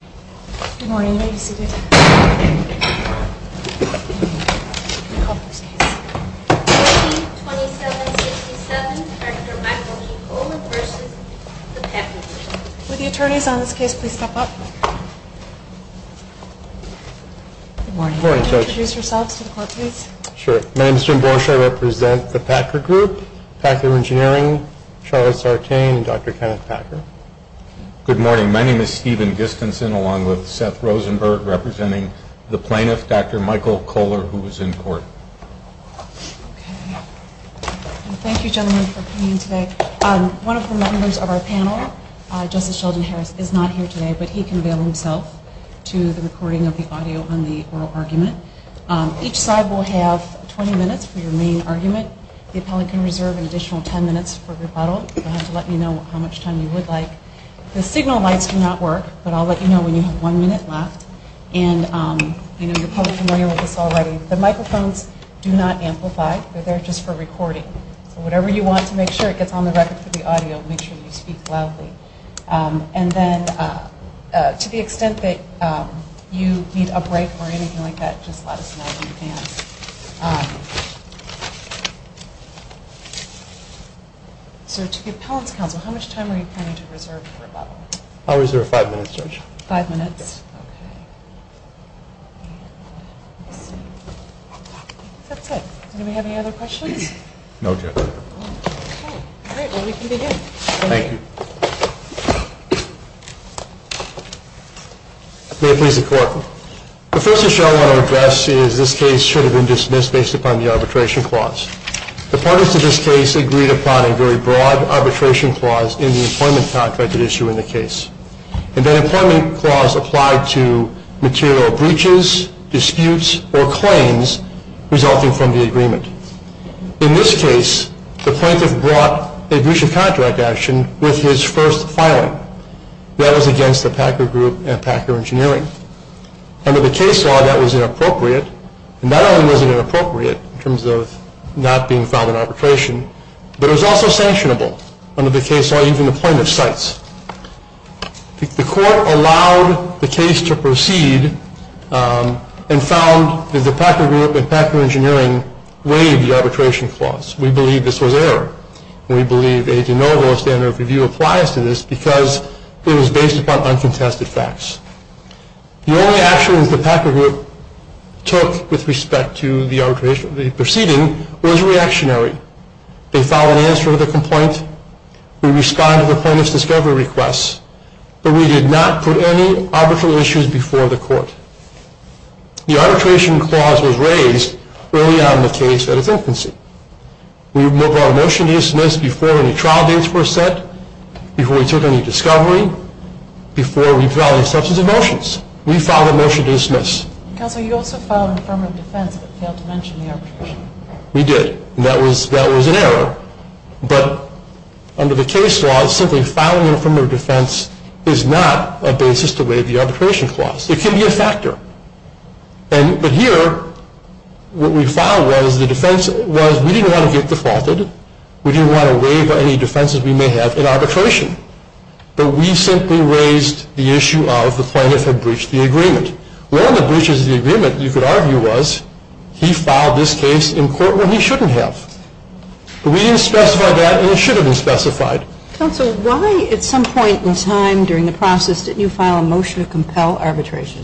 Good morning. My name is Stephen Giskenson. I am the President of the Packer Group. It is my great pleasure to be here today to talk to you about the Plaintiff's Appeal. I would like to begin with a brief introduction along with Seth Rosenberg, representing the Plaintiff, Dr. Michael Koehler, who is in court. Thank you, gentlemen, for coming today. One of the members of our panel, Justice Sheldon Harris, is not here today, but he can avail himself to the recording of the audio on the oral argument. Each side will have 20 minutes for your main argument. The appellate can reserve an additional 10 minutes for rebuttal. You will have to let me know how much time you would like. The signal lights do not work, but I will let you know when you have one minute left. You are probably familiar with this already. The microphones do not amplify. They are there just for recording. Whatever you want to make sure it gets on the record for the audio, make sure you speak loudly. To the extent that you need a break or anything like that, just let us know in advance. To the appellate's counsel, how much time are you planning to reserve for rebuttal? I will reserve five minutes, Judge. Five minutes? Okay. That's it. Do we have any other questions? No, Judge. Great. Well, we can begin. Thank you. May it please the Court. The first issue I want to address is this case should have been dismissed based upon the arbitration clause. The parties to this case agreed upon a very broad arbitration clause in the employment contract at issue in the case. And that employment clause applied to material breaches, disputes, or claims resulting from the agreement. In this case, the plaintiff brought a breach of contract action with his first filing. That was against the Packer Group and Packer Engineering. Under the case law, that was inappropriate. And not only was it inappropriate in terms of not being found in arbitration, but it was also sanctionable under the case law, even the plaintiff cites. The Court allowed the case to proceed and found that the Packer Group and Packer Engineering waived the arbitration clause. We believe this was error. We believe a de novo standard of review applies to this because it was based upon uncontested facts. The only actions the Packer Group took with respect to the proceeding was reactionary. They filed an answer to the complaint. We responded to the plaintiff's discovery request. But we did not put any arbitral issues before the Court. The arbitration clause was raised early on in the case at its infancy. We brought a motion to dismiss before any trial dates were set, before we took any discovery, before we filed any substantive motions. We filed a motion to dismiss. Counselor, you also filed an affirmative defense but failed to mention the arbitration. We did. That was an error. But under the case law, simply filing an affirmative defense is not a basis to waive the arbitration clause. It can be a factor. But here, what we filed was we didn't want to get defaulted. We didn't want to waive any defenses we may have in arbitration. But we simply raised the issue of the plaintiff had breached the agreement. One of the breaches of the agreement, you could argue, was he filed this case in court when he shouldn't have. But we didn't specify that, and it should have been specified. Counsel, why at some point in time during the process didn't you file a motion to compel arbitration?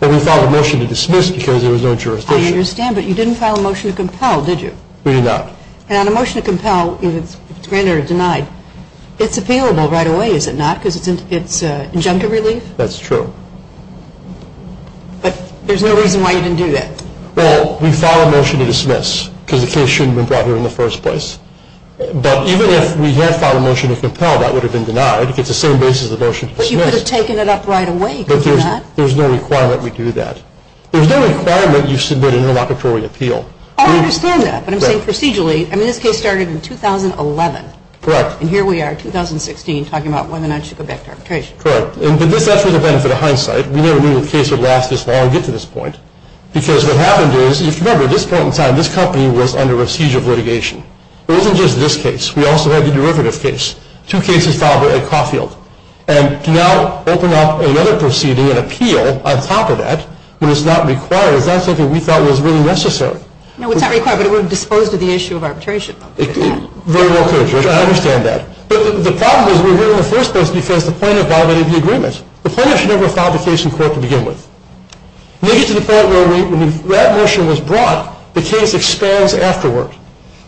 Well, we filed a motion to dismiss because there was no jurisdiction. I understand, but you didn't file a motion to compel, did you? We did not. And on a motion to compel, if it's granted or denied, it's appealable right away, is it not? Because it's injunctive relief? That's true. But there's no reason why you didn't do that. Well, we filed a motion to dismiss because the case shouldn't have been brought here in the first place. But even if we had filed a motion to compel, that would have been denied. It's the same basis of the motion to dismiss. But you could have taken it up right away, could you not? There's no requirement we do that. There's no requirement you submit an interlocutory appeal. I understand that, but I'm saying procedurally. I mean, this case started in 2011. Correct. And here we are, 2016, talking about whether or not you should go back to arbitration. Correct. And that's for the benefit of hindsight. But we never knew the case would last this long and get to this point. Because what happened is, if you remember, at this point in time, this company was under a siege of litigation. It wasn't just this case. We also had the derivative case, two cases filed at Caulfield. And to now open up another proceeding, an appeal, on top of that, when it's not required, is not something we thought was really necessary. No, it's not required, but it would have disposed of the issue of arbitration. Very well. I understand that. But the problem is we were here in the first place because the plaintiff violated the agreement. The plaintiff should never have filed the case in court to begin with. And they get to the point where when that motion was brought, the case expands afterward.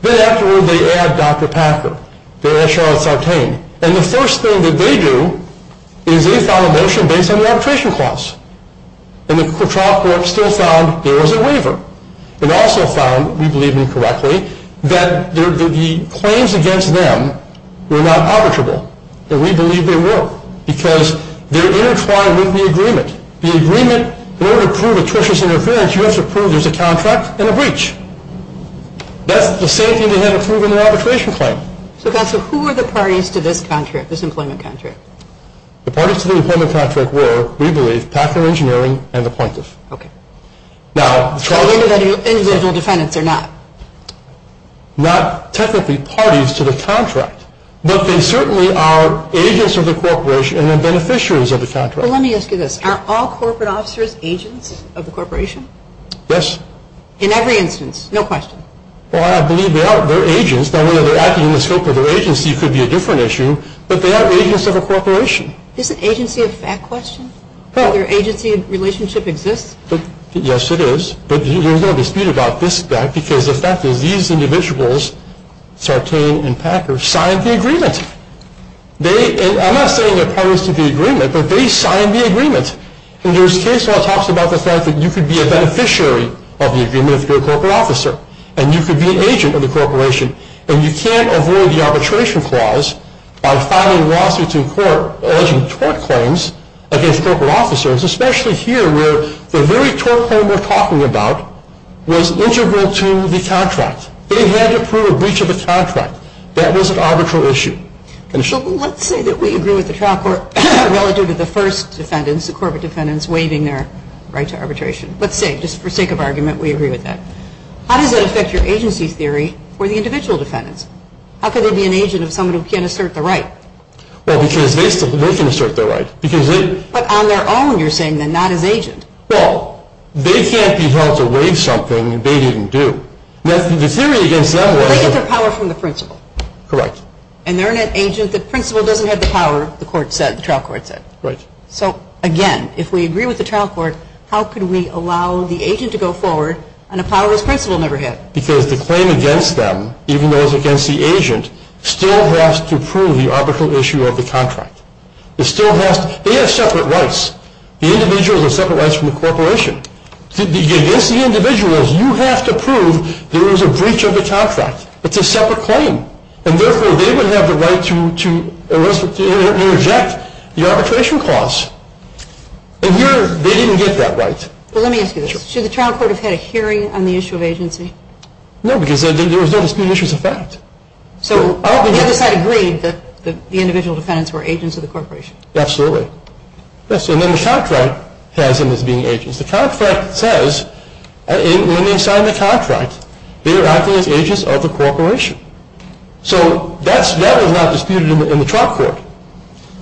Then afterward, they add Dr. Packer. They add Charlotte Sartain. And the first thing that they do is they file a motion based on the arbitration clause. And the trial court still found there was a waiver. It also found, we believe incorrectly, that the claims against them were not arbitrable. And we believe they were because they're intertwined with the agreement. The agreement, in order to prove atrocious interference, you have to prove there's a contract and a breach. That's the same thing they had to prove in the arbitration claim. So, counsel, who were the parties to this contract, this employment contract? The parties to the employment contract were, we believe, Packer Engineering and the plaintiff. Okay. Now, Charlotte Sartain. Individual defendants or not? Not technically parties to the contract. But they certainly are agents of the corporation and beneficiaries of the contract. Well, let me ask you this. Are all corporate officers agents of the corporation? Yes. In every instance? No question? Well, I believe they are. They're agents. Now, whether they're acting in the scope of their agency could be a different issue. But they are agents of a corporation. Is an agency a fact question? Well, their agency relationship exists? Yes, it is. But there's no dispute about this fact because the fact is these individuals, Sartain and Packer, signed the agreement. I'm not saying they're parties to the agreement, but they signed the agreement. And there's case law that talks about the fact that you could be a beneficiary of the agreement if you're a corporate officer. And you could be an agent of the corporation. And you can't avoid the arbitration clause by filing lawsuits in court alleging tort claims against corporate officers, especially here where the very tort claim we're talking about was integral to the contract. They had to prove a breach of the contract. That was an arbitral issue. So let's say that we agree with the trial court relative to the first defendants, the corporate defendants, waiving their right to arbitration. Let's say, just for sake of argument, we agree with that. How does that affect your agency theory for the individual defendants? How could they be an agent of someone who can't assert the right? Well, because they can assert their right. But on their own you're saying they're not as agent. Well, they can't be held to waive something they didn't do. Well, they get their power from the principal. Correct. And they're an agent. The principal doesn't have the power, the trial court said. Right. So, again, if we agree with the trial court, how could we allow the agent to go forward on a power his principal never had? Because the claim against them, even though it's against the agent, still has to prove the arbitral issue of the contract. They have separate rights. The individual has separate rights from the corporation. Against the individuals, you have to prove there was a breach of the contract. It's a separate claim. And, therefore, they would have the right to reject the arbitration clause. And here they didn't get that right. Well, let me ask you this. Should the trial court have had a hearing on the issue of agency? No, because there were no disputed issues of fact. So the other side agreed that the individual defendants were agents of the corporation. Absolutely. And then the contract has them as being agents. The contract says, when they signed the contract, they were acting as agents of the corporation. So that was not disputed in the trial court.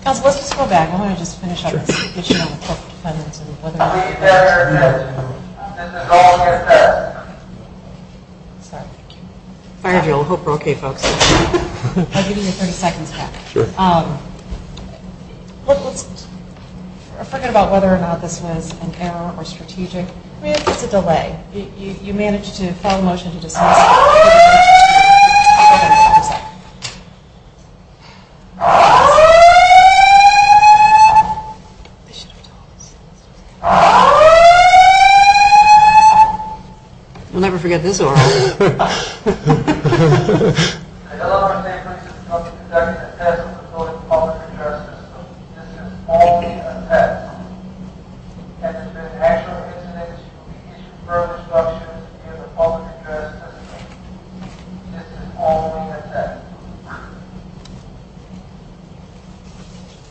Counsel, let's just go back. I want to just finish up this discussion on the court defendants and whether or not they were agents of the corporation. This is all we have time for. I hope we're okay, folks. I'll give you your 30 seconds back. Sure. Let's forget about whether or not this was an error or strategic. I mean, it's a delay. You managed to file a motion to dismiss. We'll never forget this order.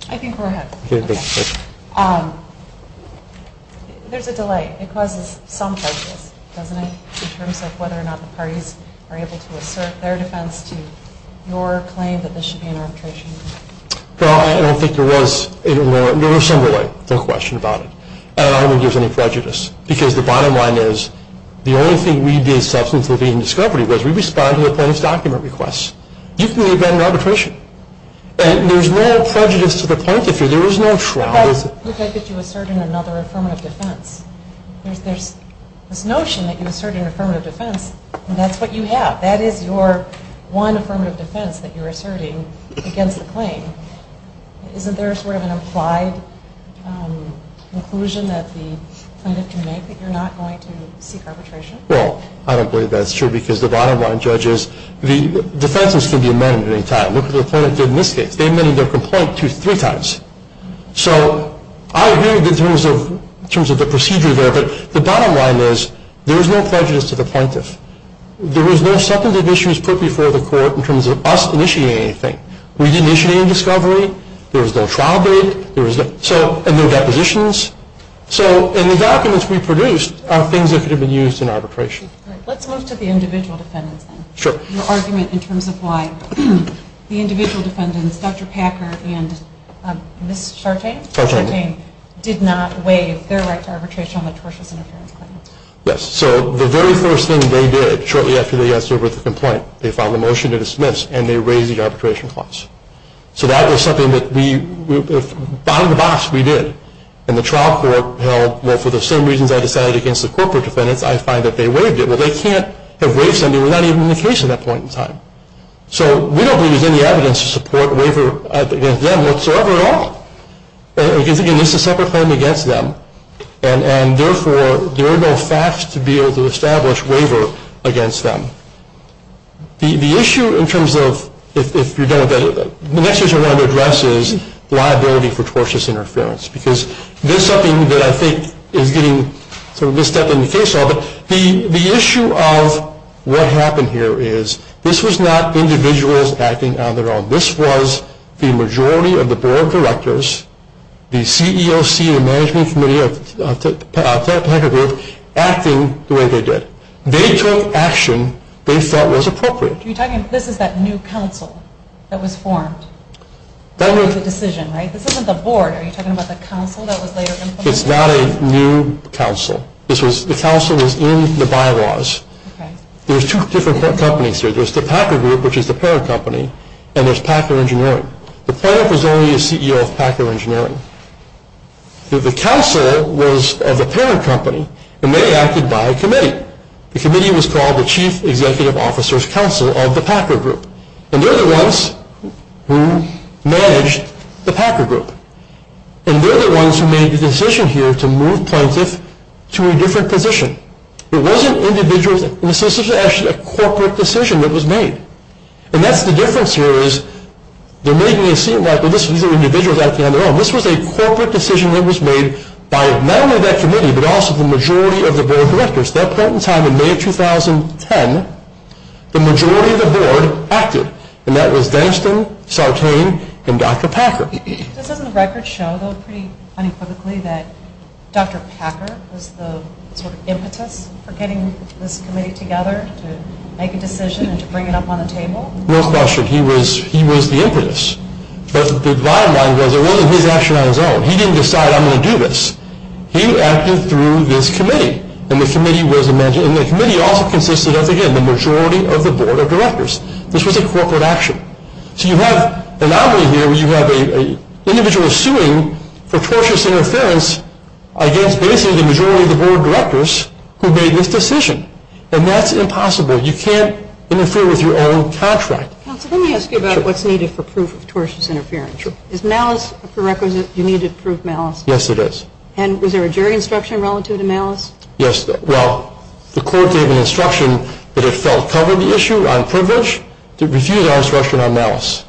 I think we're ahead. There's a delay. It causes some prejudice, doesn't it, in terms of whether or not the parties are able to assert their defense to your claim that this should be an arbitration. Well, I don't think there was any more. There was some delay. No question about it. And I don't think there was any prejudice because the bottom line is the only thing we did in substance of the being in discovery was we responded to the plaintiff's document requests. You can leave that in arbitration. And there's no prejudice to the plaintiff here. There was no trial. What if I get you asserting another affirmative defense? There's this notion that you asserted an affirmative defense, and that's what you have. That is your one affirmative defense that you're asserting against the claim. Isn't there sort of an implied conclusion that the plaintiff can make that you're not going to seek arbitration? Well, I don't believe that's true because the bottom line, judges, the defenses can be amended at any time. Look at what the plaintiff did in this case. They amended their complaint three times. So I agree in terms of the procedure there, but the bottom line is there was no prejudice to the plaintiff. There was no substantive issues put before the court in terms of us initiating anything. We didn't initiate any discovery. There was no trial date. There was no depositions. So in the documents we produced are things that could have been used in arbitration. Let's move to the individual defendants then. Sure. Your argument in terms of why the individual defendants, Dr. Packer and Ms. Chartain, did not waive their right to arbitration on the tortious interference claim. Yes. So the very first thing they did shortly after they got through with the complaint, they filed a motion to dismiss, and they raised the arbitration clause. So that was something that we, behind the box, we did. And the trial court held, well, for the same reasons I decided against the corporate defendants, I find that they waived it. Well, they can't have waived something without even being in the case at that point in time. So we don't believe there's any evidence to support a waiver against them whatsoever at all. Again, this is a separate claim against them, and therefore there are no facts to be able to establish waiver against them. The issue in terms of if you don't, the next issue I want to address is liability for tortious interference because this is something that I think is getting sort of misstepped in the case law, but the issue of what happened here is this was not individuals acting on their own. This was the majority of the board of directors, the CEOC, the management committee, acting the way they did. They took action they thought was appropriate. Are you talking, this is that new council that was formed? That was the decision, right? This isn't the board. Are you talking about the council that was later implemented? It's not a new council. The council was in the bylaws. There's two different companies here. There's the Packer Group, which is the parent company, and there's Packer Engineering. The plaintiff was only a CEO of Packer Engineering. The council was of the parent company, and they acted by committee. The committee was called the Chief Executive Officer's Council of the Packer Group, and they're the ones who managed the Packer Group, and they're the ones who made the decision here to move plaintiff to a different position. It wasn't individuals. This was actually a corporate decision that was made, and that's the difference here is they're making it seem like, well, these are individuals acting on their own. This was a corporate decision that was made by not only that committee, but also the majority of the board of directors. That point in time in May of 2010, the majority of the board acted, and that was Danston, Sartain, and Dr. Packer. This doesn't record show, though, pretty unequivocally, that Dr. Packer was the sort of impetus for getting this committee together to make a decision and to bring it up on the table? No question. He was the impetus, but the bottom line was it wasn't his action on his own. He didn't decide, I'm going to do this. He acted through this committee, and the committee also consisted of, again, the majority of the board of directors. This was a corporate action. So you have an anomaly here where you have an individual suing for tortious interference against basically the majority of the board of directors who made this decision, and that's impossible. You can't interfere with your own contract. Counsel, let me ask you about what's needed for proof of tortious interference. Is malice a prerequisite? Do you need to prove malice? Yes, it is. And was there a jury instruction relative to malice? Yes. Well, the court gave an instruction that it felt covered the issue on privilege. It refused our instruction on malice.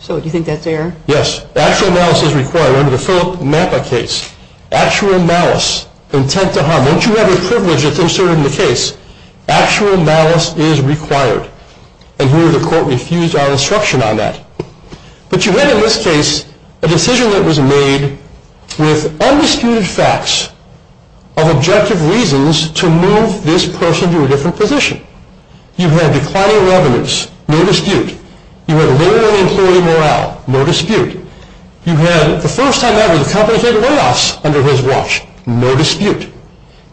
So do you think that's there? Yes. Actual malice is required. Remember the Philip Mappa case. Actual malice, intent to harm. Once you have a privilege that's inserted in the case, actual malice is required. And here the court refused our instruction on that. But you had in this case a decision that was made with undisputed facts of objective reasons to move this person to a different position. You had declining revenues. No dispute. You had lower employee morale. No dispute. You had the first time ever the company paid layoffs under his watch. No dispute.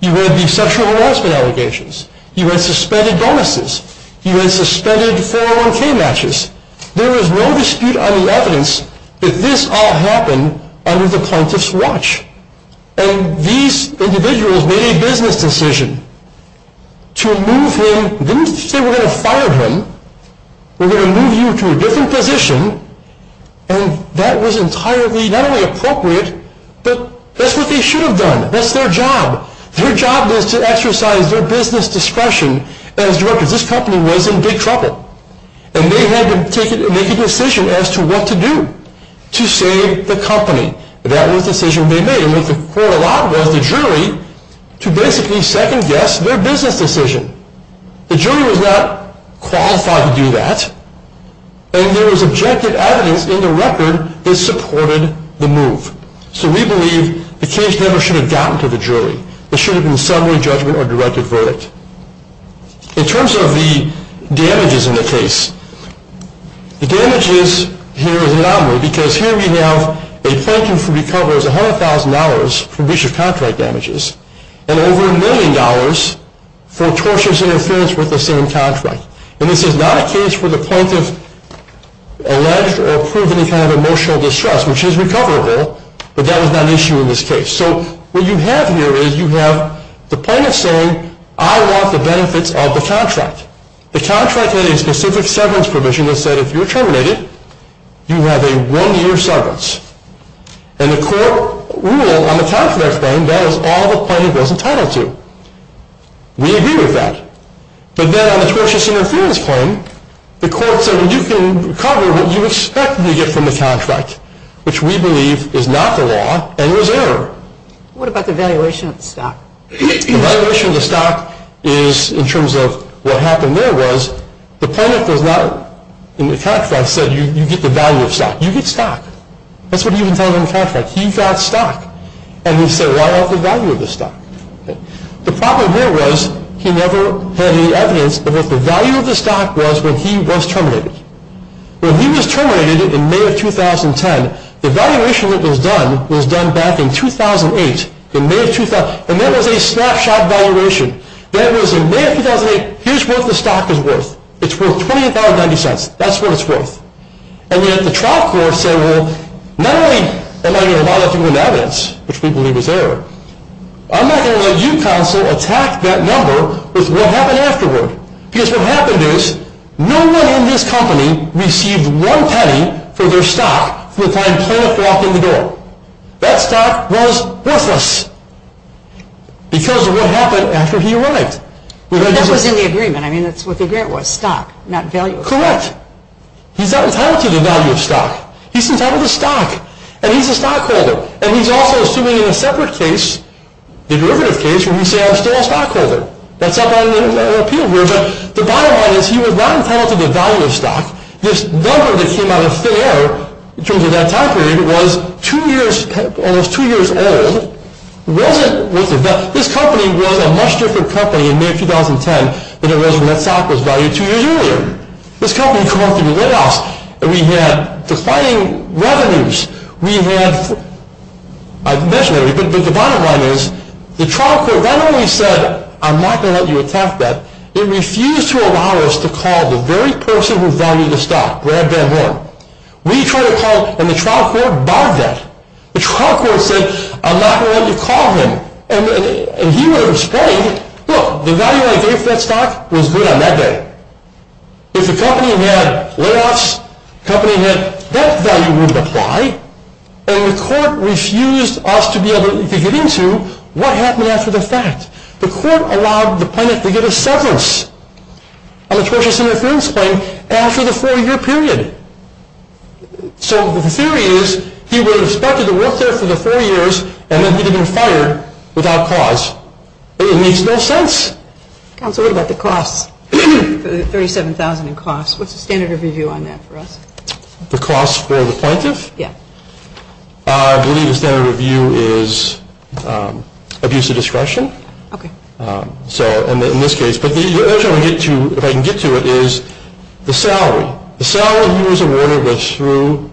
You had the sexual harassment allegations. You had suspended bonuses. You had suspended 401K matches. There is no dispute on the evidence that this all happened under the plaintiff's watch. And these individuals made a business decision to move him, didn't say we're going to fire him. We're going to move you to a different position. And that was entirely not only appropriate, but that's what they should have done. That's their job. Their job is to exercise their business discretion as directors. This company was in big trouble. And they had to make a decision as to what to do to save the company. That was the decision they made. And what the court allowed was the jury to basically second-guess their business decision. The jury was not qualified to do that. And there was objective evidence in the record that supported the move. So we believe the case never should have gotten to the jury. It should have been a summary judgment or directed verdict. In terms of the damages in the case, the damages here is anomalous, because here we have a plaintiff who recovers $100,000 from breach of contract damages and over a million dollars for tortious interference with the same contract. And this is not a case where the plaintiff alleged or proved any kind of emotional distress, which is recoverable, but that was not an issue in this case. So what you have here is you have the plaintiff saying, I want the benefits of the contract. The contract had a specific severance provision that said if you're terminated, you have a one-year severance. And the court ruled on the contract claim that was all the plaintiff was entitled to. We agree with that. But then on the tortious interference claim, the court said you can recover what you expect to get from the contract, which we believe is not the law and was error. What about the valuation of the stock? The valuation of the stock is in terms of what happened there was the plaintiff was not in the contract and said you get the value of stock. You get stock. That's what he was entitled in the contract. He got stock. And we said why not the value of the stock? The problem here was he never had any evidence of what the value of the stock was when he was terminated. When he was terminated in May of 2010, the valuation that was done was done back in 2008. And that was a snapshot valuation. That was in May of 2008. Here's what the stock is worth. It's worth $20.90. That's what it's worth. And yet the trial court said, well, not only am I going to lie to people in evidence, which we believe is error, I'm not going to let you counsel attack that number with what happened afterward. Because what happened is no one in this company received one penny for their stock from the time plaintiff walked in the door. That stock was worthless because of what happened after he arrived. But that was in the agreement. I mean, that's what the grant was, stock, not value. Correct. He's not entitled to the value of stock. He's entitled to stock. And he's a stockholder. And he's also assuming in a separate case, the derivative case, where we say I'm still a stockholder. That's up on appeal here. But the bottom line is he was not entitled to the value of stock. This number that came out of thin air in terms of that time period was almost two years old. This company was a much different company in May of 2010 than it was when that stock was valued two years earlier. This company had come up through the White House, and we had declining revenues. We had, I can mention it, but the bottom line is the trial court not only said I'm not going to let you attack that, it refused to allow us to call the very person who valued the stock, Brad Van Horn. We tried to call him, and the trial court barred that. The trial court said I'm not going to let you call him. And he would explain, look, the value I gave that stock was good on that day. If the company had layoffs, the company had debt value wouldn't apply, and the court refused us to be able to get into what happened after the fact. The court allowed the plaintiff to get a severance, a tortious interference claim after the four-year period. So the theory is he would have expected to work there for the four years and then he would have been fired without cause. It makes no sense. Counsel, what about the costs? The $37,000 in costs, what's the standard review on that for us? The costs for the plaintiff? Yeah. I believe the standard review is abuse of discretion. Okay. So in this case. But the other thing I want to get to, if I can get to it, is the salary. The salary he was awarded was through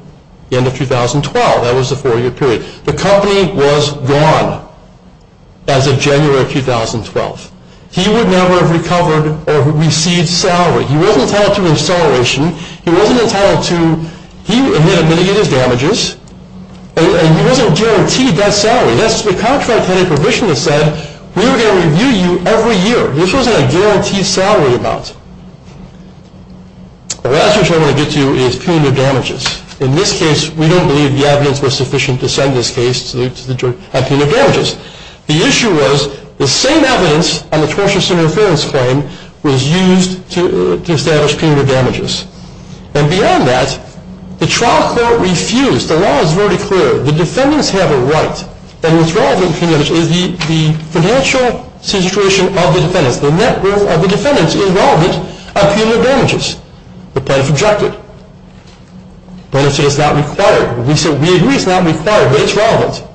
the end of 2012. That was the four-year period. The company was gone as of January of 2012. He would never have recovered or received salary. He wasn't entitled to an acceleration. He wasn't entitled to, he admitted his damages, and he wasn't guaranteed that salary. Yes, the contract had a provision that said we were going to review you every year. This wasn't a guaranteed salary amount. The last issue I want to get to is punitive damages. In this case, we don't believe the evidence was sufficient to send this case to the jury on punitive damages. The issue was the same evidence on the tortious interference claim was used to establish punitive damages. And beyond that, the trial court refused. The law is very clear. The defendants have a right. And what's relevant to punitive damages is the financial situation of the defendants. The net worth of the defendants is relevant of punitive damages. The plaintiff objected. The plaintiff said it's not required. We said we agree it's not required, but it's relevant.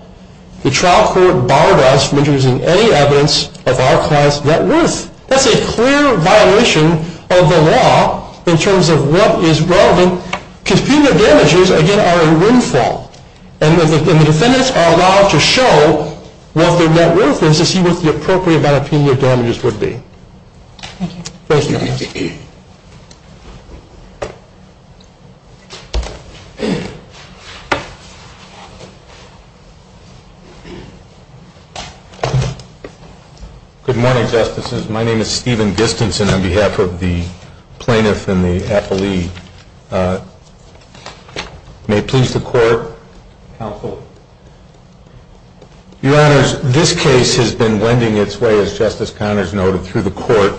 The trial court barred us from introducing any evidence of our client's net worth. That's a clear violation of the law in terms of what is relevant, because punitive damages, again, are a windfall. And the defendants are allowed to show what their net worth is to see what the appropriate amount of punitive damages would be. Thank you. Thank you. Good morning, Justices. My name is Stephen Distenson on behalf of the plaintiff and the appellee. May it please the Court, counsel. Your Honors, this case has been wending its way, as Justice Connors noted, through the Court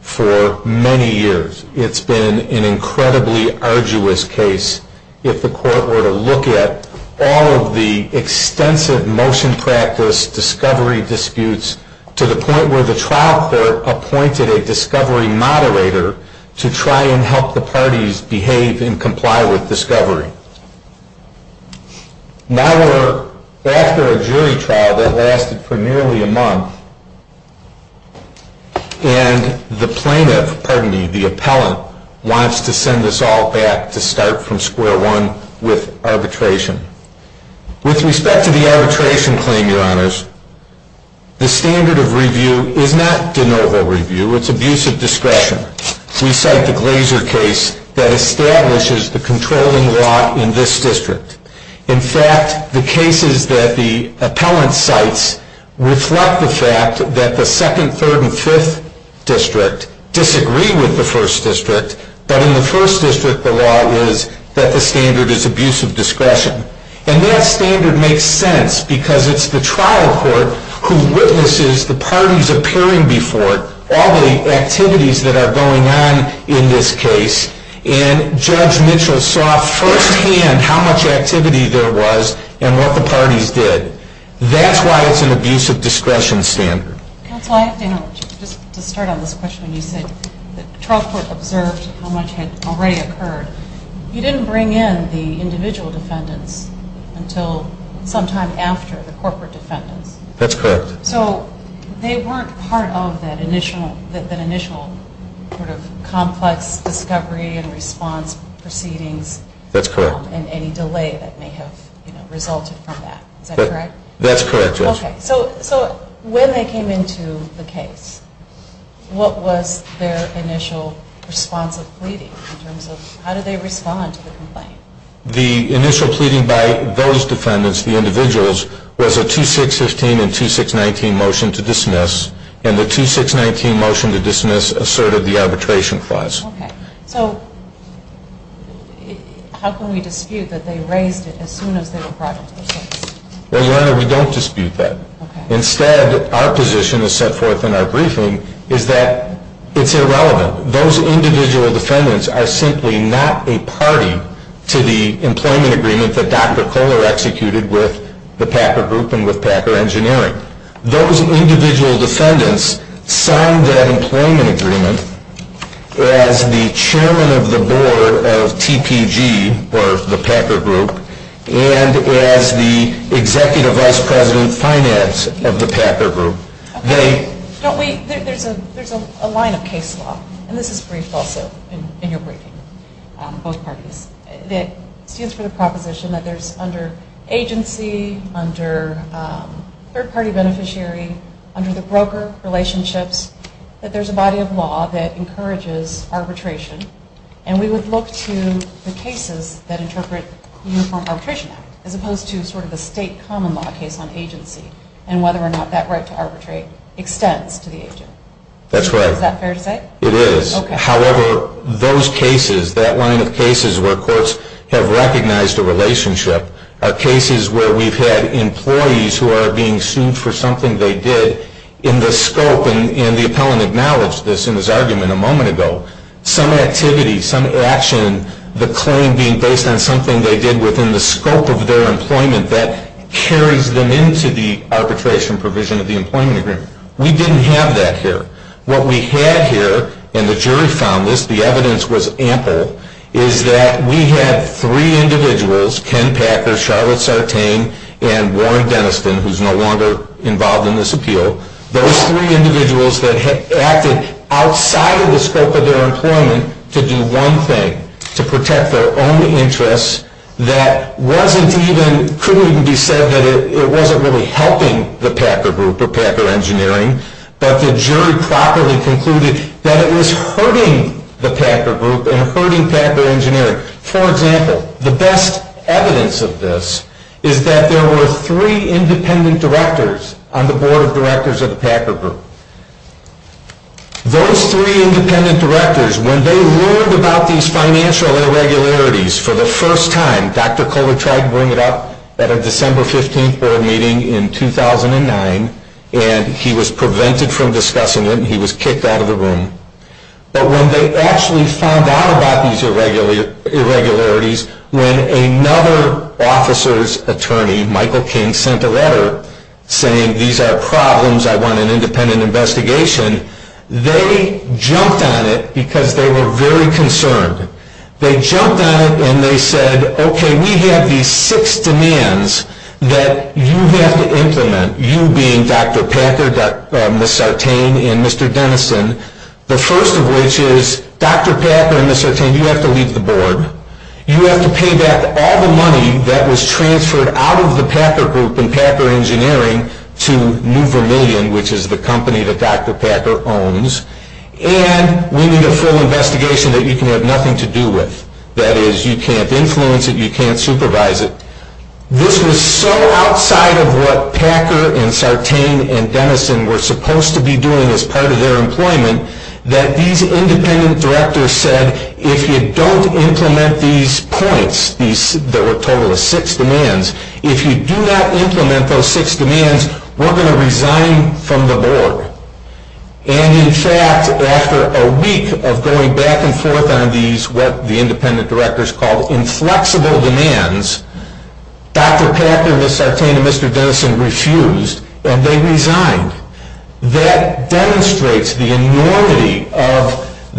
for many years. It's been an incredibly arduous case. If the Court were to look at all of the extensive motion practice discovery disputes to the point where the trial court appointed a discovery moderator to try and help the parties behave and comply with discovery. Now we're after a jury trial that lasted for nearly a month, and the plaintiff, pardon me, the appellant, wants to send us all back to start from square one with arbitration. With respect to the arbitration claim, Your Honors, the standard of review is not de novo review. It's abuse of discretion. We cite the Glazer case that establishes the controlling law in this district. In fact, the cases that the appellant cites reflect the fact that the second, third, and fifth district disagree with the first district, but in the first district the law is that the standard is abuse of discretion. And that standard makes sense because it's the trial court who witnesses the parties appearing before it, all the activities that are going on in this case, and Judge Mitchell saw firsthand how much activity there was and what the parties did. That's why it's an abuse of discretion standard. Counsel, just to start on this question, you said the trial court observed how much had already occurred. You didn't bring in the individual defendants until sometime after the corporate defendants. That's correct. So they weren't part of that initial sort of complex discovery and response proceedings. That's correct. And any delay that may have resulted from that. Is that correct? That's correct, yes. Okay, so when they came into the case, what was their initial response of pleading in terms of how did they respond to the complaint? The initial pleading by those defendants, the individuals, was a 2-6-15 and 2-6-19 motion to dismiss, and the 2-6-19 motion to dismiss asserted the arbitration clause. Okay, so how can we dispute that they raised it as soon as they were brought into the case? Well, Your Honor, we don't dispute that. Instead, our position is set forth in our briefing is that it's irrelevant. Those individual defendants are simply not a party to the employment agreement that Dr. Kohler executed with the Packer Group and with Packer Engineering. Those individual defendants signed that employment agreement as the chairman of the board of TPG, or the Packer Group, and as the executive vice president finance of the Packer Group. There's a line of case law, and this is briefed also in your briefing, both parties, that stands for the proposition that there's under agency, under third-party beneficiary, under the broker relationships, that there's a body of law that encourages arbitration, and we would look to the cases that interpret the Uniform Arbitration Act as opposed to sort of the state common law case on agency and whether or not that right to arbitrate extends to the agent. That's right. Is that fair to say? It is. Okay. However, those cases, that line of cases where courts have recognized a relationship, are cases where we've had employees who are being sued for something they did in the scope, and the appellant acknowledged this in his argument a moment ago, some activity, some action, the claim being based on something they did within the scope of their employment that carries them into the arbitration provision of the employment agreement. We didn't have that here. What we had here, and the jury found this, the evidence was ample, is that we had three individuals, Ken Packer, Charlotte Sartain, and Warren Denniston, who's no longer involved in this appeal, those three individuals that acted outside of the scope of their employment to do one thing, to protect their own interests, that wasn't even, couldn't even be said that it wasn't really helping the Packer Group or Packer Engineering, but the jury properly concluded that it was hurting the Packer Group and hurting Packer Engineering. For example, the best evidence of this is that there were three independent directors on the board of directors of the Packer Group. Those three independent directors, when they learned about these financial irregularities for the first time, Dr. Kohler tried to bring it up at a December 15th board meeting in 2009, and he was prevented from discussing it, and he was kicked out of the room. But when they actually found out about these irregularities, when another officer's attorney, Michael King, sent a letter saying, these are problems, I want an independent investigation, they jumped on it because they were very concerned. They jumped on it and they said, okay, we have these six demands that you have to implement, you being Dr. Packer, Ms. Sartain, and Mr. Denniston, the first of which is, Dr. Packer and Ms. Sartain, you have to leave the board. You have to pay back all the money that was transferred out of the Packer Group and Packer Engineering to New Vermilion, which is the company that Dr. Packer owns, and we need a full investigation that you can have nothing to do with. That is, you can't influence it, you can't supervise it. This was so outside of what Packer and Sartain and Denniston were supposed to be doing as part of their employment, that these independent directors said, if you don't implement these points, that were total of six demands, if you do not implement those six demands, we're going to resign from the board. And in fact, after a week of going back and forth on these, what the independent directors called inflexible demands, Dr. Packer, Ms. Sartain, and Mr. Denniston refused, and they resigned. That demonstrates the enormity of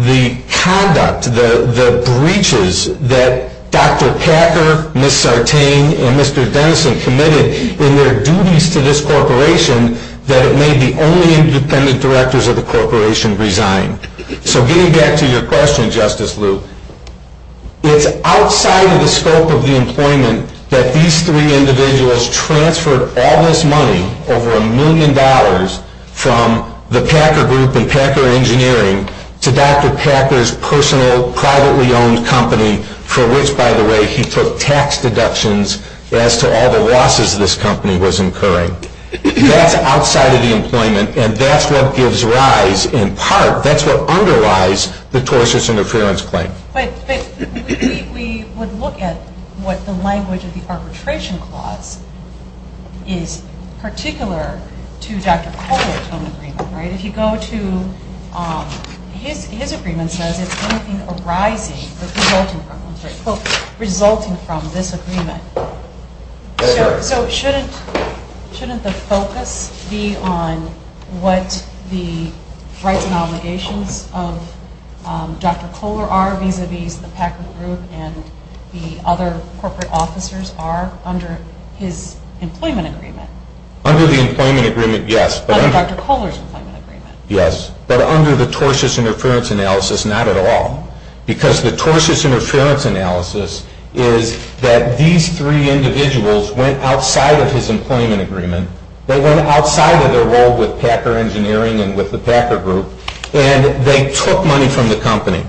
the conduct, the breaches, that Dr. Packer, Ms. Sartain, and Mr. Denniston committed in their duties to this corporation, that it made the only independent directors of the corporation resign. So getting back to your question, Justice Luke, it's outside of the scope of the employment that these three individuals transferred all this money, over a million dollars, from the Packer Group and Packer Engineering to Dr. Packer's personal, privately owned company, for which, by the way, he took tax deductions as to all the losses this company was incurring. That's outside of the employment, and that's what gives rise, in part, that's what underlies the tortious interference claim. But we would look at what the language of the arbitration clause is particular to Dr. Packer's own agreement. If you go to his agreement, it says it's anything arising, resulting from this agreement. So shouldn't the focus be on what the rights and obligations of Dr. Kohler are, vis-a-vis the Packer Group and the other corporate officers are, under his employment agreement? Under the employment agreement, yes. Under Dr. Kohler's employment agreement. Yes, but under the tortious interference analysis, not at all. Because the tortious interference analysis is that these three individuals went outside of his employment agreement, they went outside of their role with Packer Engineering and with the Packer Group, and they took money from the company.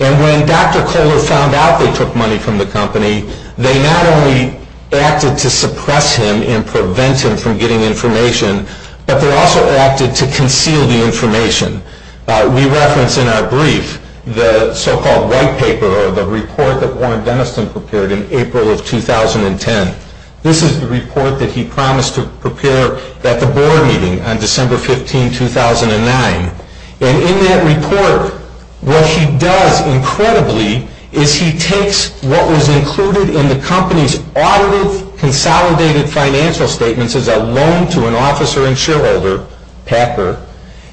And when Dr. Kohler found out they took money from the company, they not only acted to suppress him and prevent him from getting information, but they also acted to conceal the information. We reference in our brief the so-called white paper or the report that Warren Dennison prepared in April of 2010. This is the report that he promised to prepare at the board meeting on December 15, 2009. And in that report, what he does incredibly is he takes what was included in the company's audited, consolidated financial statements as a loan to an officer and shareholder, Packer,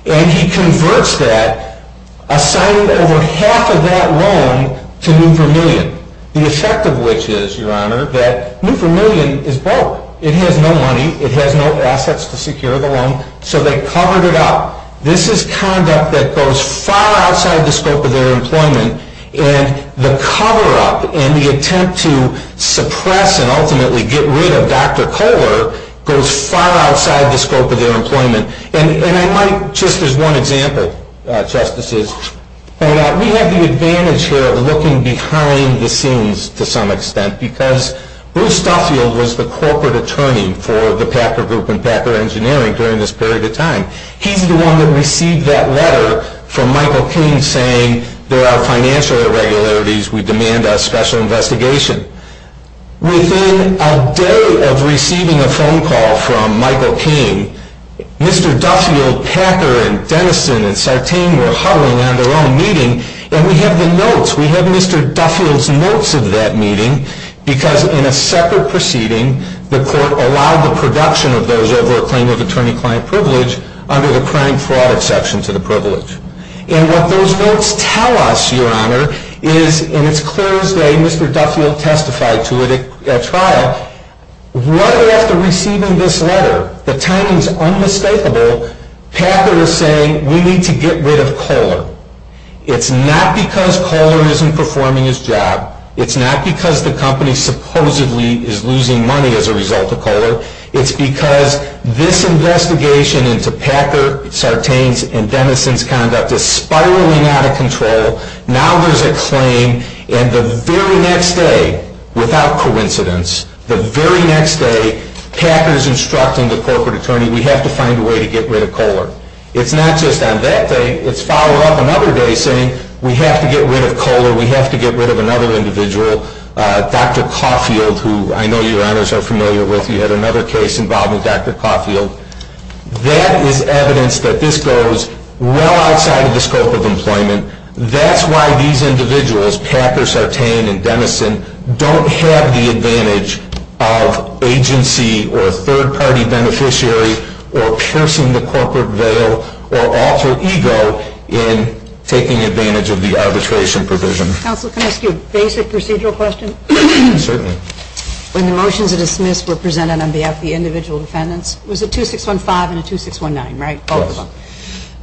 and he converts that, assigning over half of that loan to New Vermillion. The effect of which is, Your Honor, that New Vermillion is broke. It has no money. It has no assets to secure the loan. So they covered it up. This is conduct that goes far outside the scope of their employment, and the cover-up and the attempt to suppress and ultimately get rid of Dr. Kohler goes far outside the scope of their employment. And I might, just as one example, Justices, we have the advantage here of looking behind the scenes to some extent, because Bruce Stuffield was the corporate attorney for the Packer Group and Packer Engineering during this period of time. He's the one that received that letter from Michael King saying, there are financial irregularities. We demand a special investigation. Within a day of receiving a phone call from Michael King, Mr. Duffield, Packer, and Denison, and Sartain were huddling in their own meeting, and we have the notes. We have Mr. Duffield's notes of that meeting, because in a separate proceeding, the court allowed the production of those over a claim of attorney-client privilege under the crime-fraud exception to the privilege. And what those notes tell us, Your Honor, is, and it's clear as day Mr. Duffield testified to it at trial, right after receiving this letter, the timing's unmistakable, Packer is saying, we need to get rid of Kohler. It's not because Kohler isn't performing his job. It's not because the company supposedly is losing money as a result of Kohler. It's because this investigation into Packer, Sartain's, and Denison's conduct is spiraling out of control. Now there's a claim, and the very next day, without coincidence, the very next day, Packer's instructing the corporate attorney, we have to find a way to get rid of Kohler. It's not just on that day. It's followed up another day saying, we have to get rid of Kohler. We have to get rid of another individual, Dr. Caulfield, who I know Your Honors are familiar with. You had another case involving Dr. Caulfield. That is evidence that this goes well outside of the scope of employment. That's why these individuals, Packer, Sartain, and Denison, don't have the advantage of agency or third-party beneficiary or piercing the corporate veil or alter ego in taking advantage of the arbitration provision. Counsel, can I ask you a basic procedural question? Certainly. When the motions were dismissed were presented on behalf of the individual defendants, was it 2615 and 2619, right, both of them?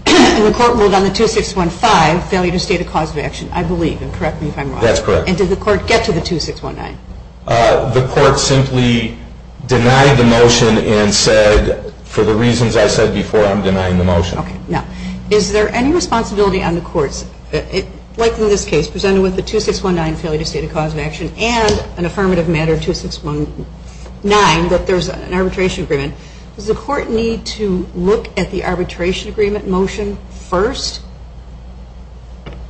Yes. And the court ruled on the 2615 failure to state a cause of action, I believe, and correct me if I'm wrong. That's correct. And did the court get to the 2619? The court simply denied the motion and said, for the reasons I said before, I'm denying the motion. Okay. Now, is there any responsibility on the courts, like in this case presented with the 2619 failure to state a cause of action and an affirmative matter 2619 that there's an arbitration agreement, does the court need to look at the arbitration agreement motion first?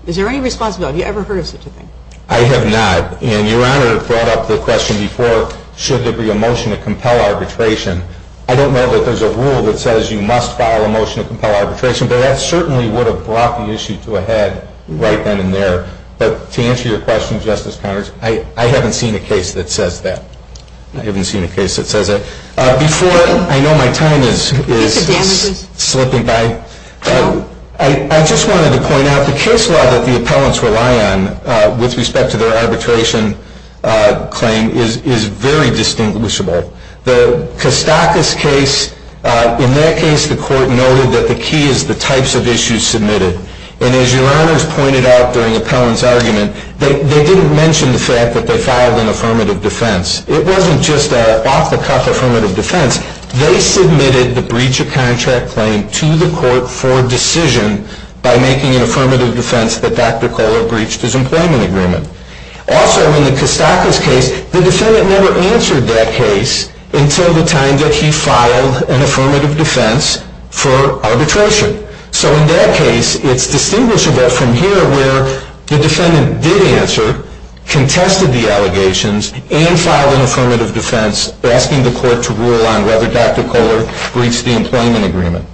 Is there any responsibility? Have you ever heard of such a thing? I have not. And Your Honor brought up the question before, should there be a motion to compel arbitration. I don't know that there's a rule that says you must file a motion to compel arbitration, but that certainly would have brought the issue to a head right then and there. But to answer your question, Justice Connors, I haven't seen a case that says that. I haven't seen a case that says that. Before I know my time is slipping by. I just wanted to point out the case law that the appellants rely on with respect to their arbitration claim is very distinguishable. The Kostakis case, in that case the court noted that the key is the types of issues submitted. And as Your Honors pointed out during the appellant's argument, they didn't mention the fact that they filed an affirmative defense. It wasn't just an off-the-cuff affirmative defense. They submitted the breach of contract claim to the court for decision by making an affirmative defense that Dr. Kohler breached his employment agreement. Also, in the Kostakis case, the defendant never answered that case until the time that he filed an affirmative defense for arbitration. So in that case, it's distinguishable from here where the defendant did answer, contested the allegations, and filed an affirmative defense asking the court to rule on whether Dr. Kohler breached the employment agreement.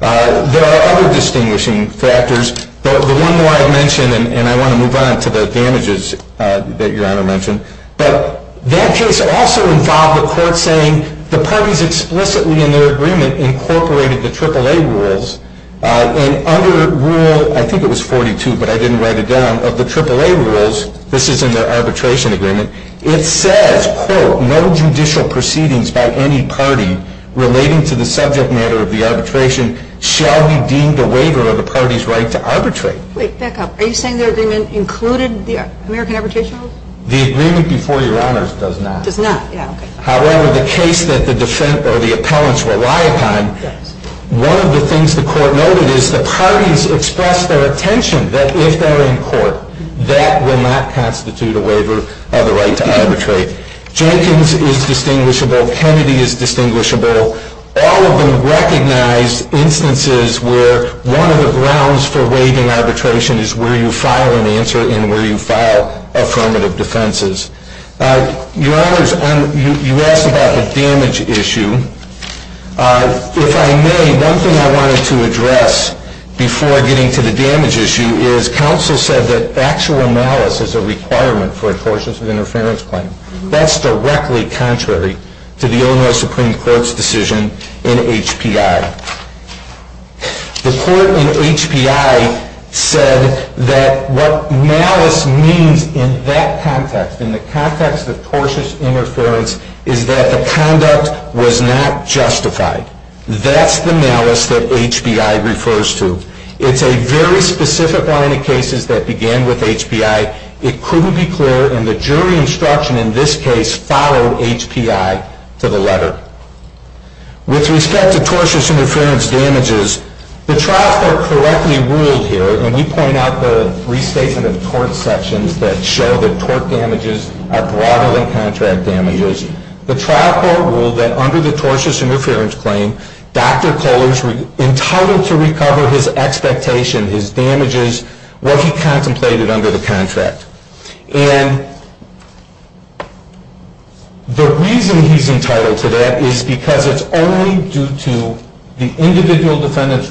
There are other distinguishing factors. The one more I've mentioned, and I want to move on to the damages that Your Honor mentioned. But that case also involved the court saying the parties explicitly in their agreement incorporated the AAA rules. And under Rule, I think it was 42, but I didn't write it down, of the AAA rules, this is in their arbitration agreement, it says, quote, no judicial proceedings by any party relating to the subject matter of the arbitration shall be deemed a waiver of the party's right to arbitrate. Wait, back up. Are you saying their agreement included the American Arbitration Rules? The agreement before Your Honors does not. Does not. Yeah, okay. However, the case that the defense or the appellants rely upon, one of the things the court noted is the parties expressed their attention that if they're in court, that will not constitute a waiver of the right to arbitrate. Jenkins is distinguishable. Kennedy is distinguishable. All of them recognize instances where one of the grounds for waiving arbitration is where you file an answer and where you file affirmative defenses. Your Honors, you asked about the damage issue. If I may, one thing I wanted to address before getting to the damage issue is counsel said that actual malice is a requirement for a tortious interference claim. That's directly contrary to the Illinois Supreme Court's decision in HPI. The court in HPI said that what malice means in that context, in the context of tortious interference, is that the conduct was not justified. That's the malice that HPI refers to. It's a very specific line of cases that began with HPI. It couldn't be clearer, and the jury instruction in this case followed HPI to the letter. With respect to tortious interference damages, the trial court correctly ruled here, and we point out the restatement of tort sections that show that tort damages are broader than contract damages. The trial court ruled that under the tortious interference claim, Dr. Kohler is entitled to recover his expectation, his damages, what he contemplated under the contract. And the reason he's entitled to that is because it's only due to the individual defendant's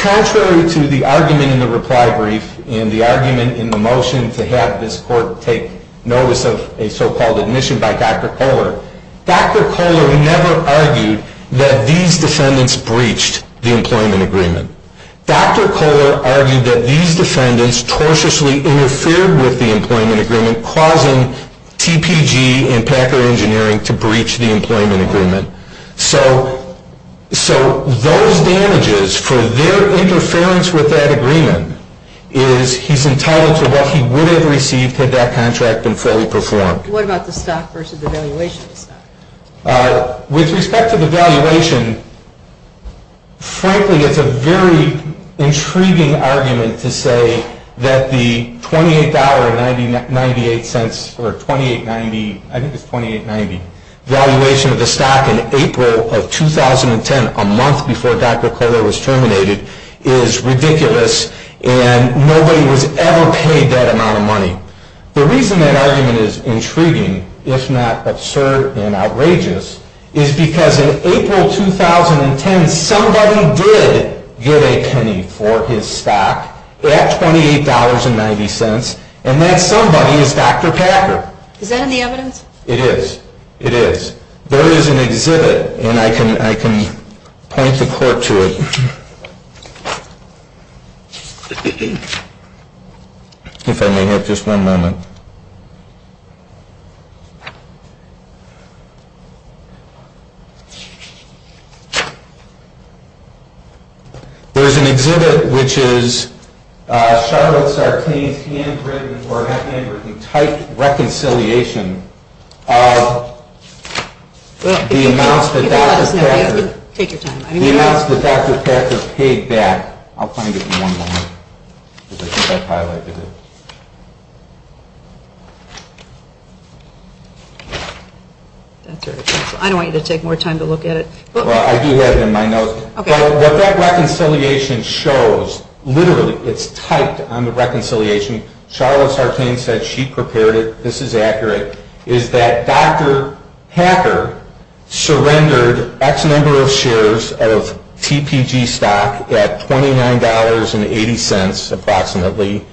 Contrary to the argument in the reply brief and the argument in the motion to have this court take notice of a so-called admission by Dr. Kohler, Dr. Kohler never argued that these defendants breached the employment agreement. Dr. Kohler argued that these defendants tortiously interfered with the employment agreement, causing TPG and Packer Engineering to breach the employment agreement. So those damages, for their interference with that agreement, is he's entitled to what he would have received had that contract been fully performed. What about the stock versus the valuation of the stock? With respect to the valuation, frankly, it's a very intriguing argument to say that the $28.98, or $28.90, I think it's $28.90, valuation of the stock in April of 2010, a month before Dr. Kohler was terminated, is ridiculous and nobody was ever paid that amount of money. The reason that argument is intriguing, if not absurd and outrageous, is because in April 2010, somebody did get a penny for his stock at $28.90, and that somebody is Dr. Packer. Is that in the evidence? It is. It is. There is an exhibit, and I can point the court to it, if I may have just one moment. There is an exhibit which is Charlotte Sartain's handwritten, or not handwritten, typed reconciliation of the amounts that Dr. Packer paid back. I'll find it in one moment. I don't want you to take more time to look at it. I do have it in my notes. What that reconciliation shows, literally, it's typed on the reconciliation, Charlotte Sartain said she prepared it, this is accurate, is that Dr. Packer surrendered X number of shares of TPG stock at $29.80 approximately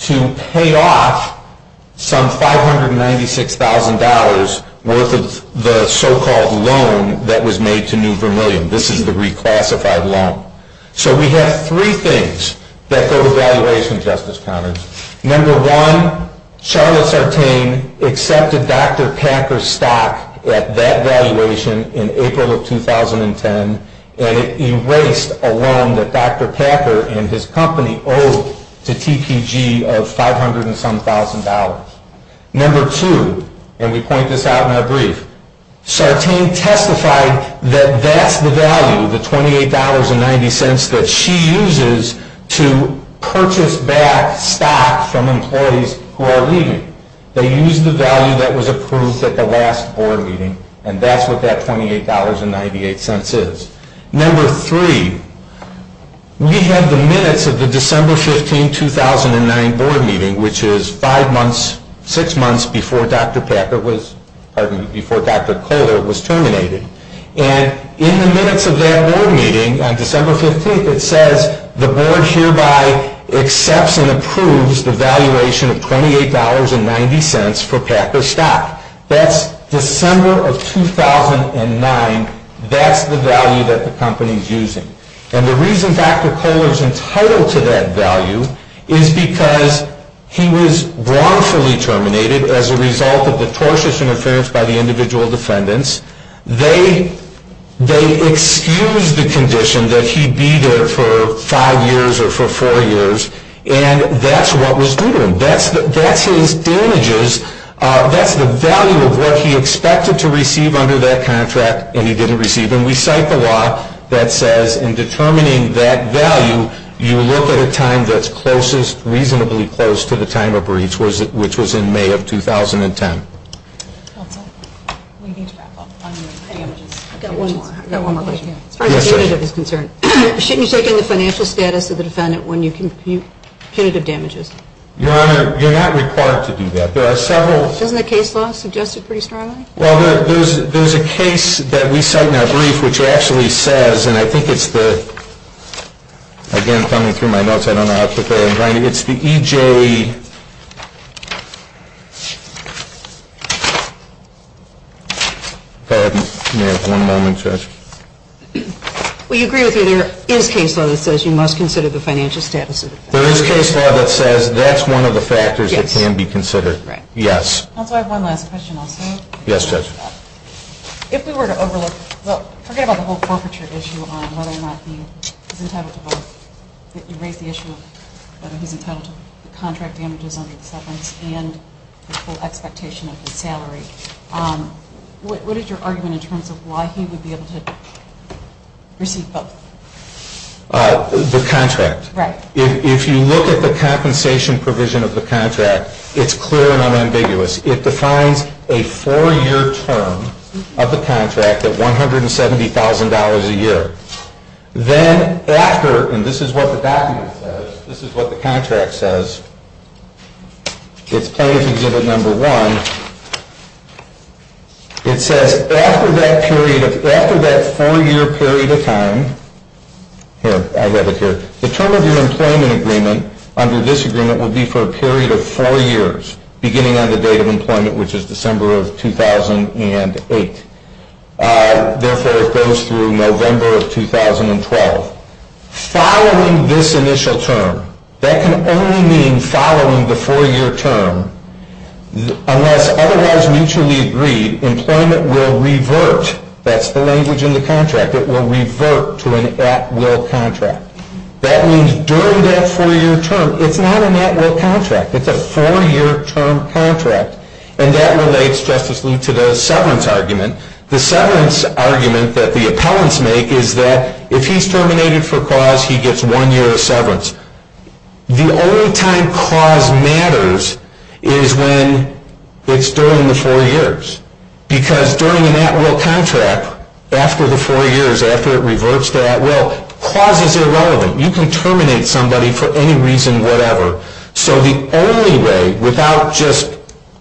to pay off some $596,000 worth of the so-called loan that was made to New Vermilion. This is the reclassified loan. So we have three things that go with valuation, Justice Connors. Number one, Charlotte Sartain accepted Dr. Packer's stock at that valuation in April of 2010, and it erased a loan that Dr. Packer and his company owed to TPG of $500 and some thousand. Number two, and we point this out in our brief, Sartain testified that that's the value, the $28.90 that she uses to purchase back stock from employees who are leaving. They use the value that was approved at the last board meeting, and that's what that $28.98 is. Number three, we have the minutes of the December 15, 2009 board meeting, which is five months, six months before Dr. Packer was, pardon me, before Dr. Kohler was terminated. And in the minutes of that board meeting on December 15, it says the board hereby accepts and approves the valuation of $28.90 for Packer's stock. That's December of 2009. That's the value that the company is using. And the reason Dr. Kohler is entitled to that value is because he was wrongfully terminated as a result of the tortious interference by the individual defendants. They excused the condition that he be there for five years or for four years, and that's what was due to him. That's his damages. That's the value of what he expected to receive under that contract, and he didn't receive. And we cite the law that says in determining that value, you look at a time that's closest, reasonably close to the time of breach, which was in May of 2010. I've got one more question. As far as punitive is concerned, shouldn't you take in the financial status of the defendant when you compute punitive damages? Your Honor, you're not required to do that. There are several. Doesn't the case law suggest it pretty strongly? Well, there's a case that we cite in our brief which actually says, and I think it's the, again, coming through my notes, I don't know how to put that in writing. It's the EJ. Go ahead, ma'am. One moment, Judge. Well, you agree with me there is case law that says you must consider the financial status of the defendant. There is case law that says that's one of the factors that can be considered. Yes. Counsel, I have one last question also. Yes, Judge. If we were to overlook, well, forget about the whole forfeiture issue on whether or not he's entitled to both, you raised the issue of whether he's entitled to the contract damages under the settlements and the full expectation of his salary, what is your argument in terms of why he would be able to receive both? The contract. Right. If you look at the compensation provision of the contract, it's clear and unambiguous. It defines a four-year term of the contract at $170,000 a year. Then after, and this is what the document says, this is what the contract says, it's plaintiff's exhibit number one. It says after that period of, after that four-year period of time, here, I have it here. The term of your employment agreement under this agreement would be for a period of four years, beginning on the date of employment, which is December of 2008. Therefore, it goes through November of 2012. Following this initial term, that can only mean following the four-year term unless otherwise mutually agreed, employment will revert, that's the language in the contract, it will revert to an at-will contract. That means during that four-year term, it's not an at-will contract. It's a four-year term contract. And that relates, Justice Lee, to the severance argument. The severance argument that the appellants make is that if he's terminated for cause, he gets one year of severance. The only time cause matters is when it's during the four years. Because during an at-will contract, after the four years, after it reverts to at-will, cause is irrelevant. You can terminate somebody for any reason whatever. So the only way, without just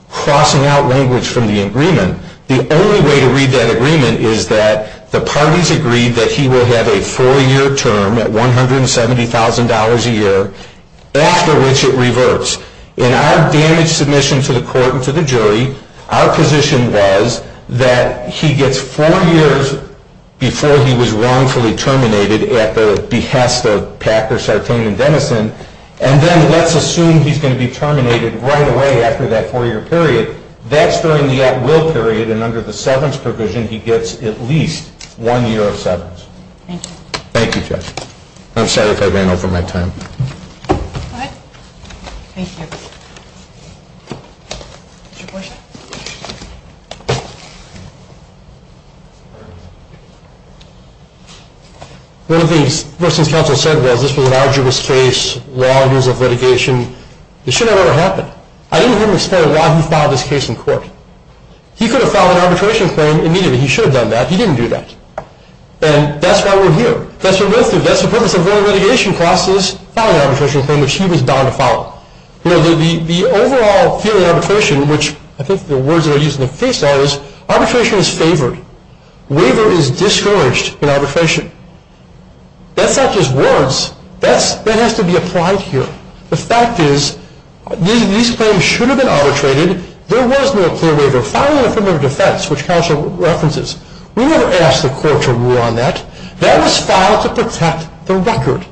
crossing out language from the agreement, the only way to read that agreement is that the parties agree that he will have a four-year term at $170,000 a year, after which it reverts. In our damage submission to the court and to the jury, our position was that he gets four years before he was wrongfully terminated at the behest of Packer, Sartain, and Dennison, and then let's assume he's going to be terminated right away after that four-year period. That's during the at-will period. And under the severance provision, he gets at least one year of severance. Thank you. Thank you, Judge. I'm sorry if I ran over my time. Go ahead. Thank you. Is there a question? One of the things the person's counsel said was this was an arduous case, long years of litigation. It should have never happened. I didn't hear him explain why he filed this case in court. He could have filed an arbitration claim immediately. He should have done that. He didn't do that. And that's why we're here. That's what we went through. That's the purpose of going through litigation classes, filing an arbitration claim, which he was bound to follow. You know, the overall feeling of arbitration, which I think the words that are used in the case are, is arbitration is favored. Waiver is discouraged in arbitration. That's not just words. That has to be applied here. The fact is these claims should have been arbitrated. There was no clear waiver. Filing an affirmative defense, which counsel references, we never asked the court to rule on that. That was filed to protect the record.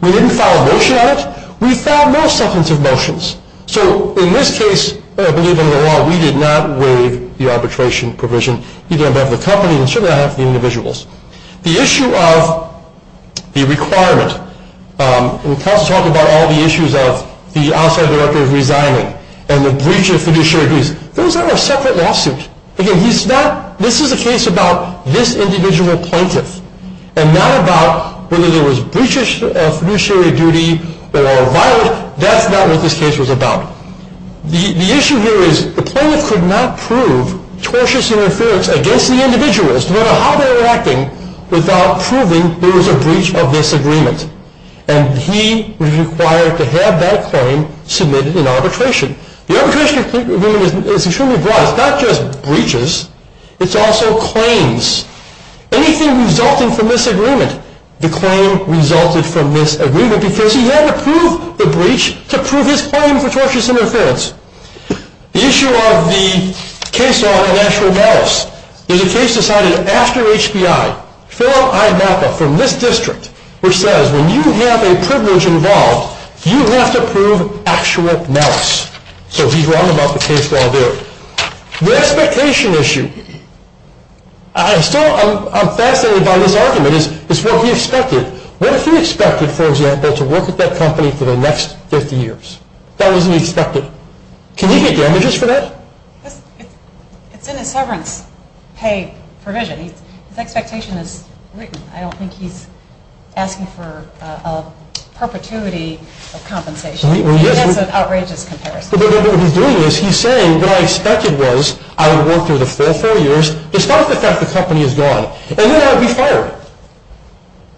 We didn't file a motion on it. We filed more substantive motions. So in this case, I believe under the law, we did not waive the arbitration provision, either on behalf of the company or on behalf of the individuals. The issue of the requirement, when counsel talked about all the issues of the outside director resigning and the breach of fiduciary duties, those are a separate lawsuit. Again, this is a case about this individual plaintiff and not about whether there was breaches of fiduciary duty or a violation. That's not what this case was about. The issue here is the plaintiff could not prove tortious interference against the individuals, no matter how they were acting, without proving there was a breach of this agreement. And he was required to have that claim submitted in arbitration. The arbitration agreement is extremely broad. It's not just breaches. It's also claims. Anything resulting from this agreement, the claim resulted from this agreement because he had to prove the breach to prove his claim for tortious interference. The issue of the case law and actual malice is a case decided after HBI. Philip I. Maka from this district, which says when you have a privilege involved, you have to prove actual malice. So he's wrong about the case law there. The expectation issue. I'm fascinated by this argument. It's what he expected. What if he expected, for example, to work at that company for the next 50 years? That wasn't expected. Can he get damages for that? It's in his severance pay provision. His expectation is written. I don't think he's asking for a perpetuity of compensation. He has an outrageous comparison. What he's doing is he's saying what I expected was I would work there the full four years despite the fact the company is gone. And then I'd be fired.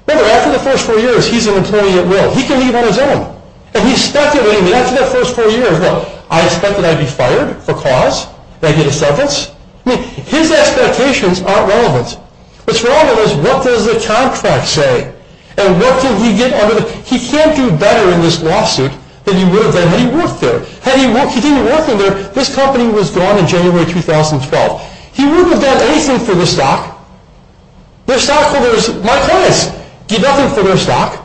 Remember, after the first four years, he's an employee at will. He can leave on his own. And he's speculating that after that first four years, look, I expect that I'd be fired for cause, that I get a severance. I mean, his expectations aren't relevant. What's relevant is what does the contract say? And what did he get under the he can't do better in this lawsuit than he would have done had he worked there. Had he didn't work in there, this company was gone in January 2012. He wouldn't have done anything for this stock. Their stockholders, my clients, did nothing for their stock.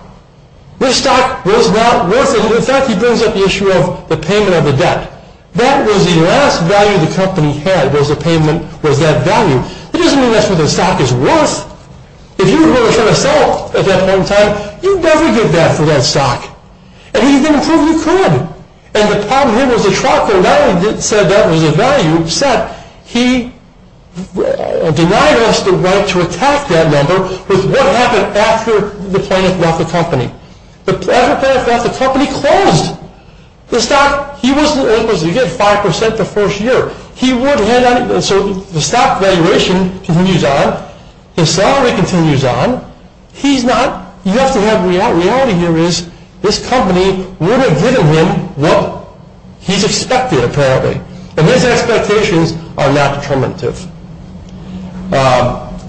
This stock was not worth it. In fact, he brings up the issue of the payment of the debt. That was the last value the company had was the payment was that value. It doesn't mean that's what the stock is worth. If you were going to try to sell at that point in time, you'd never get that for that stock. And he didn't prove he could. And the problem here was the trial court not only said that was a value, it said he denied us the right to attack that number with what happened after the plaintiff left the company. After the plaintiff left the company, he closed the stock. He wasn't able to get 5% the first year. He wouldn't have done it. So the stock valuation continues on. His salary continues on. You have to have reality here is this company would have given him what he's expected, apparently. And his expectations are not determinative. I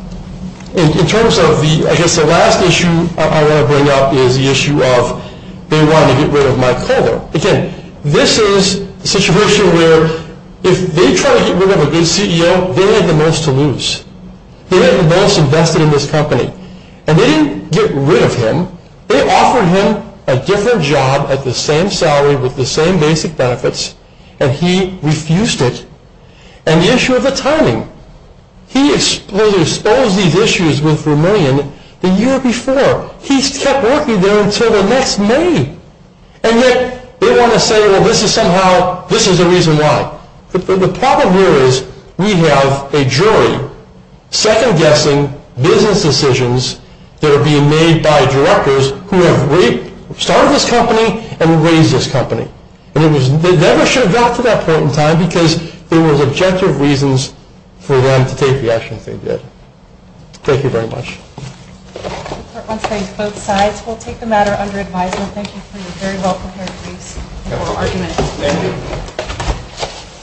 guess the last issue I want to bring up is the issue of they want to get rid of Mike Kohler. Again, this is a situation where if they try to get rid of a good CEO, they have the most to lose. They have the most invested in this company. And they didn't get rid of him. They offered him a different job at the same salary with the same basic benefits. And he refused it. And the issue of the timing. He exposed these issues with Vermillion the year before. He kept working there until the next May. And yet they want to say, well, this is somehow, this is the reason why. The problem here is we have a jury second-guessing business decisions that are being made by directors who have started this company and raised this company. They never should have gotten to that point in time because there was objective reasons for them to take the actions they did. Thank you very much. The court wants to thank both sides. We'll take the matter under advisement. Thank you for your very well-prepared briefs and oral arguments. Thank you.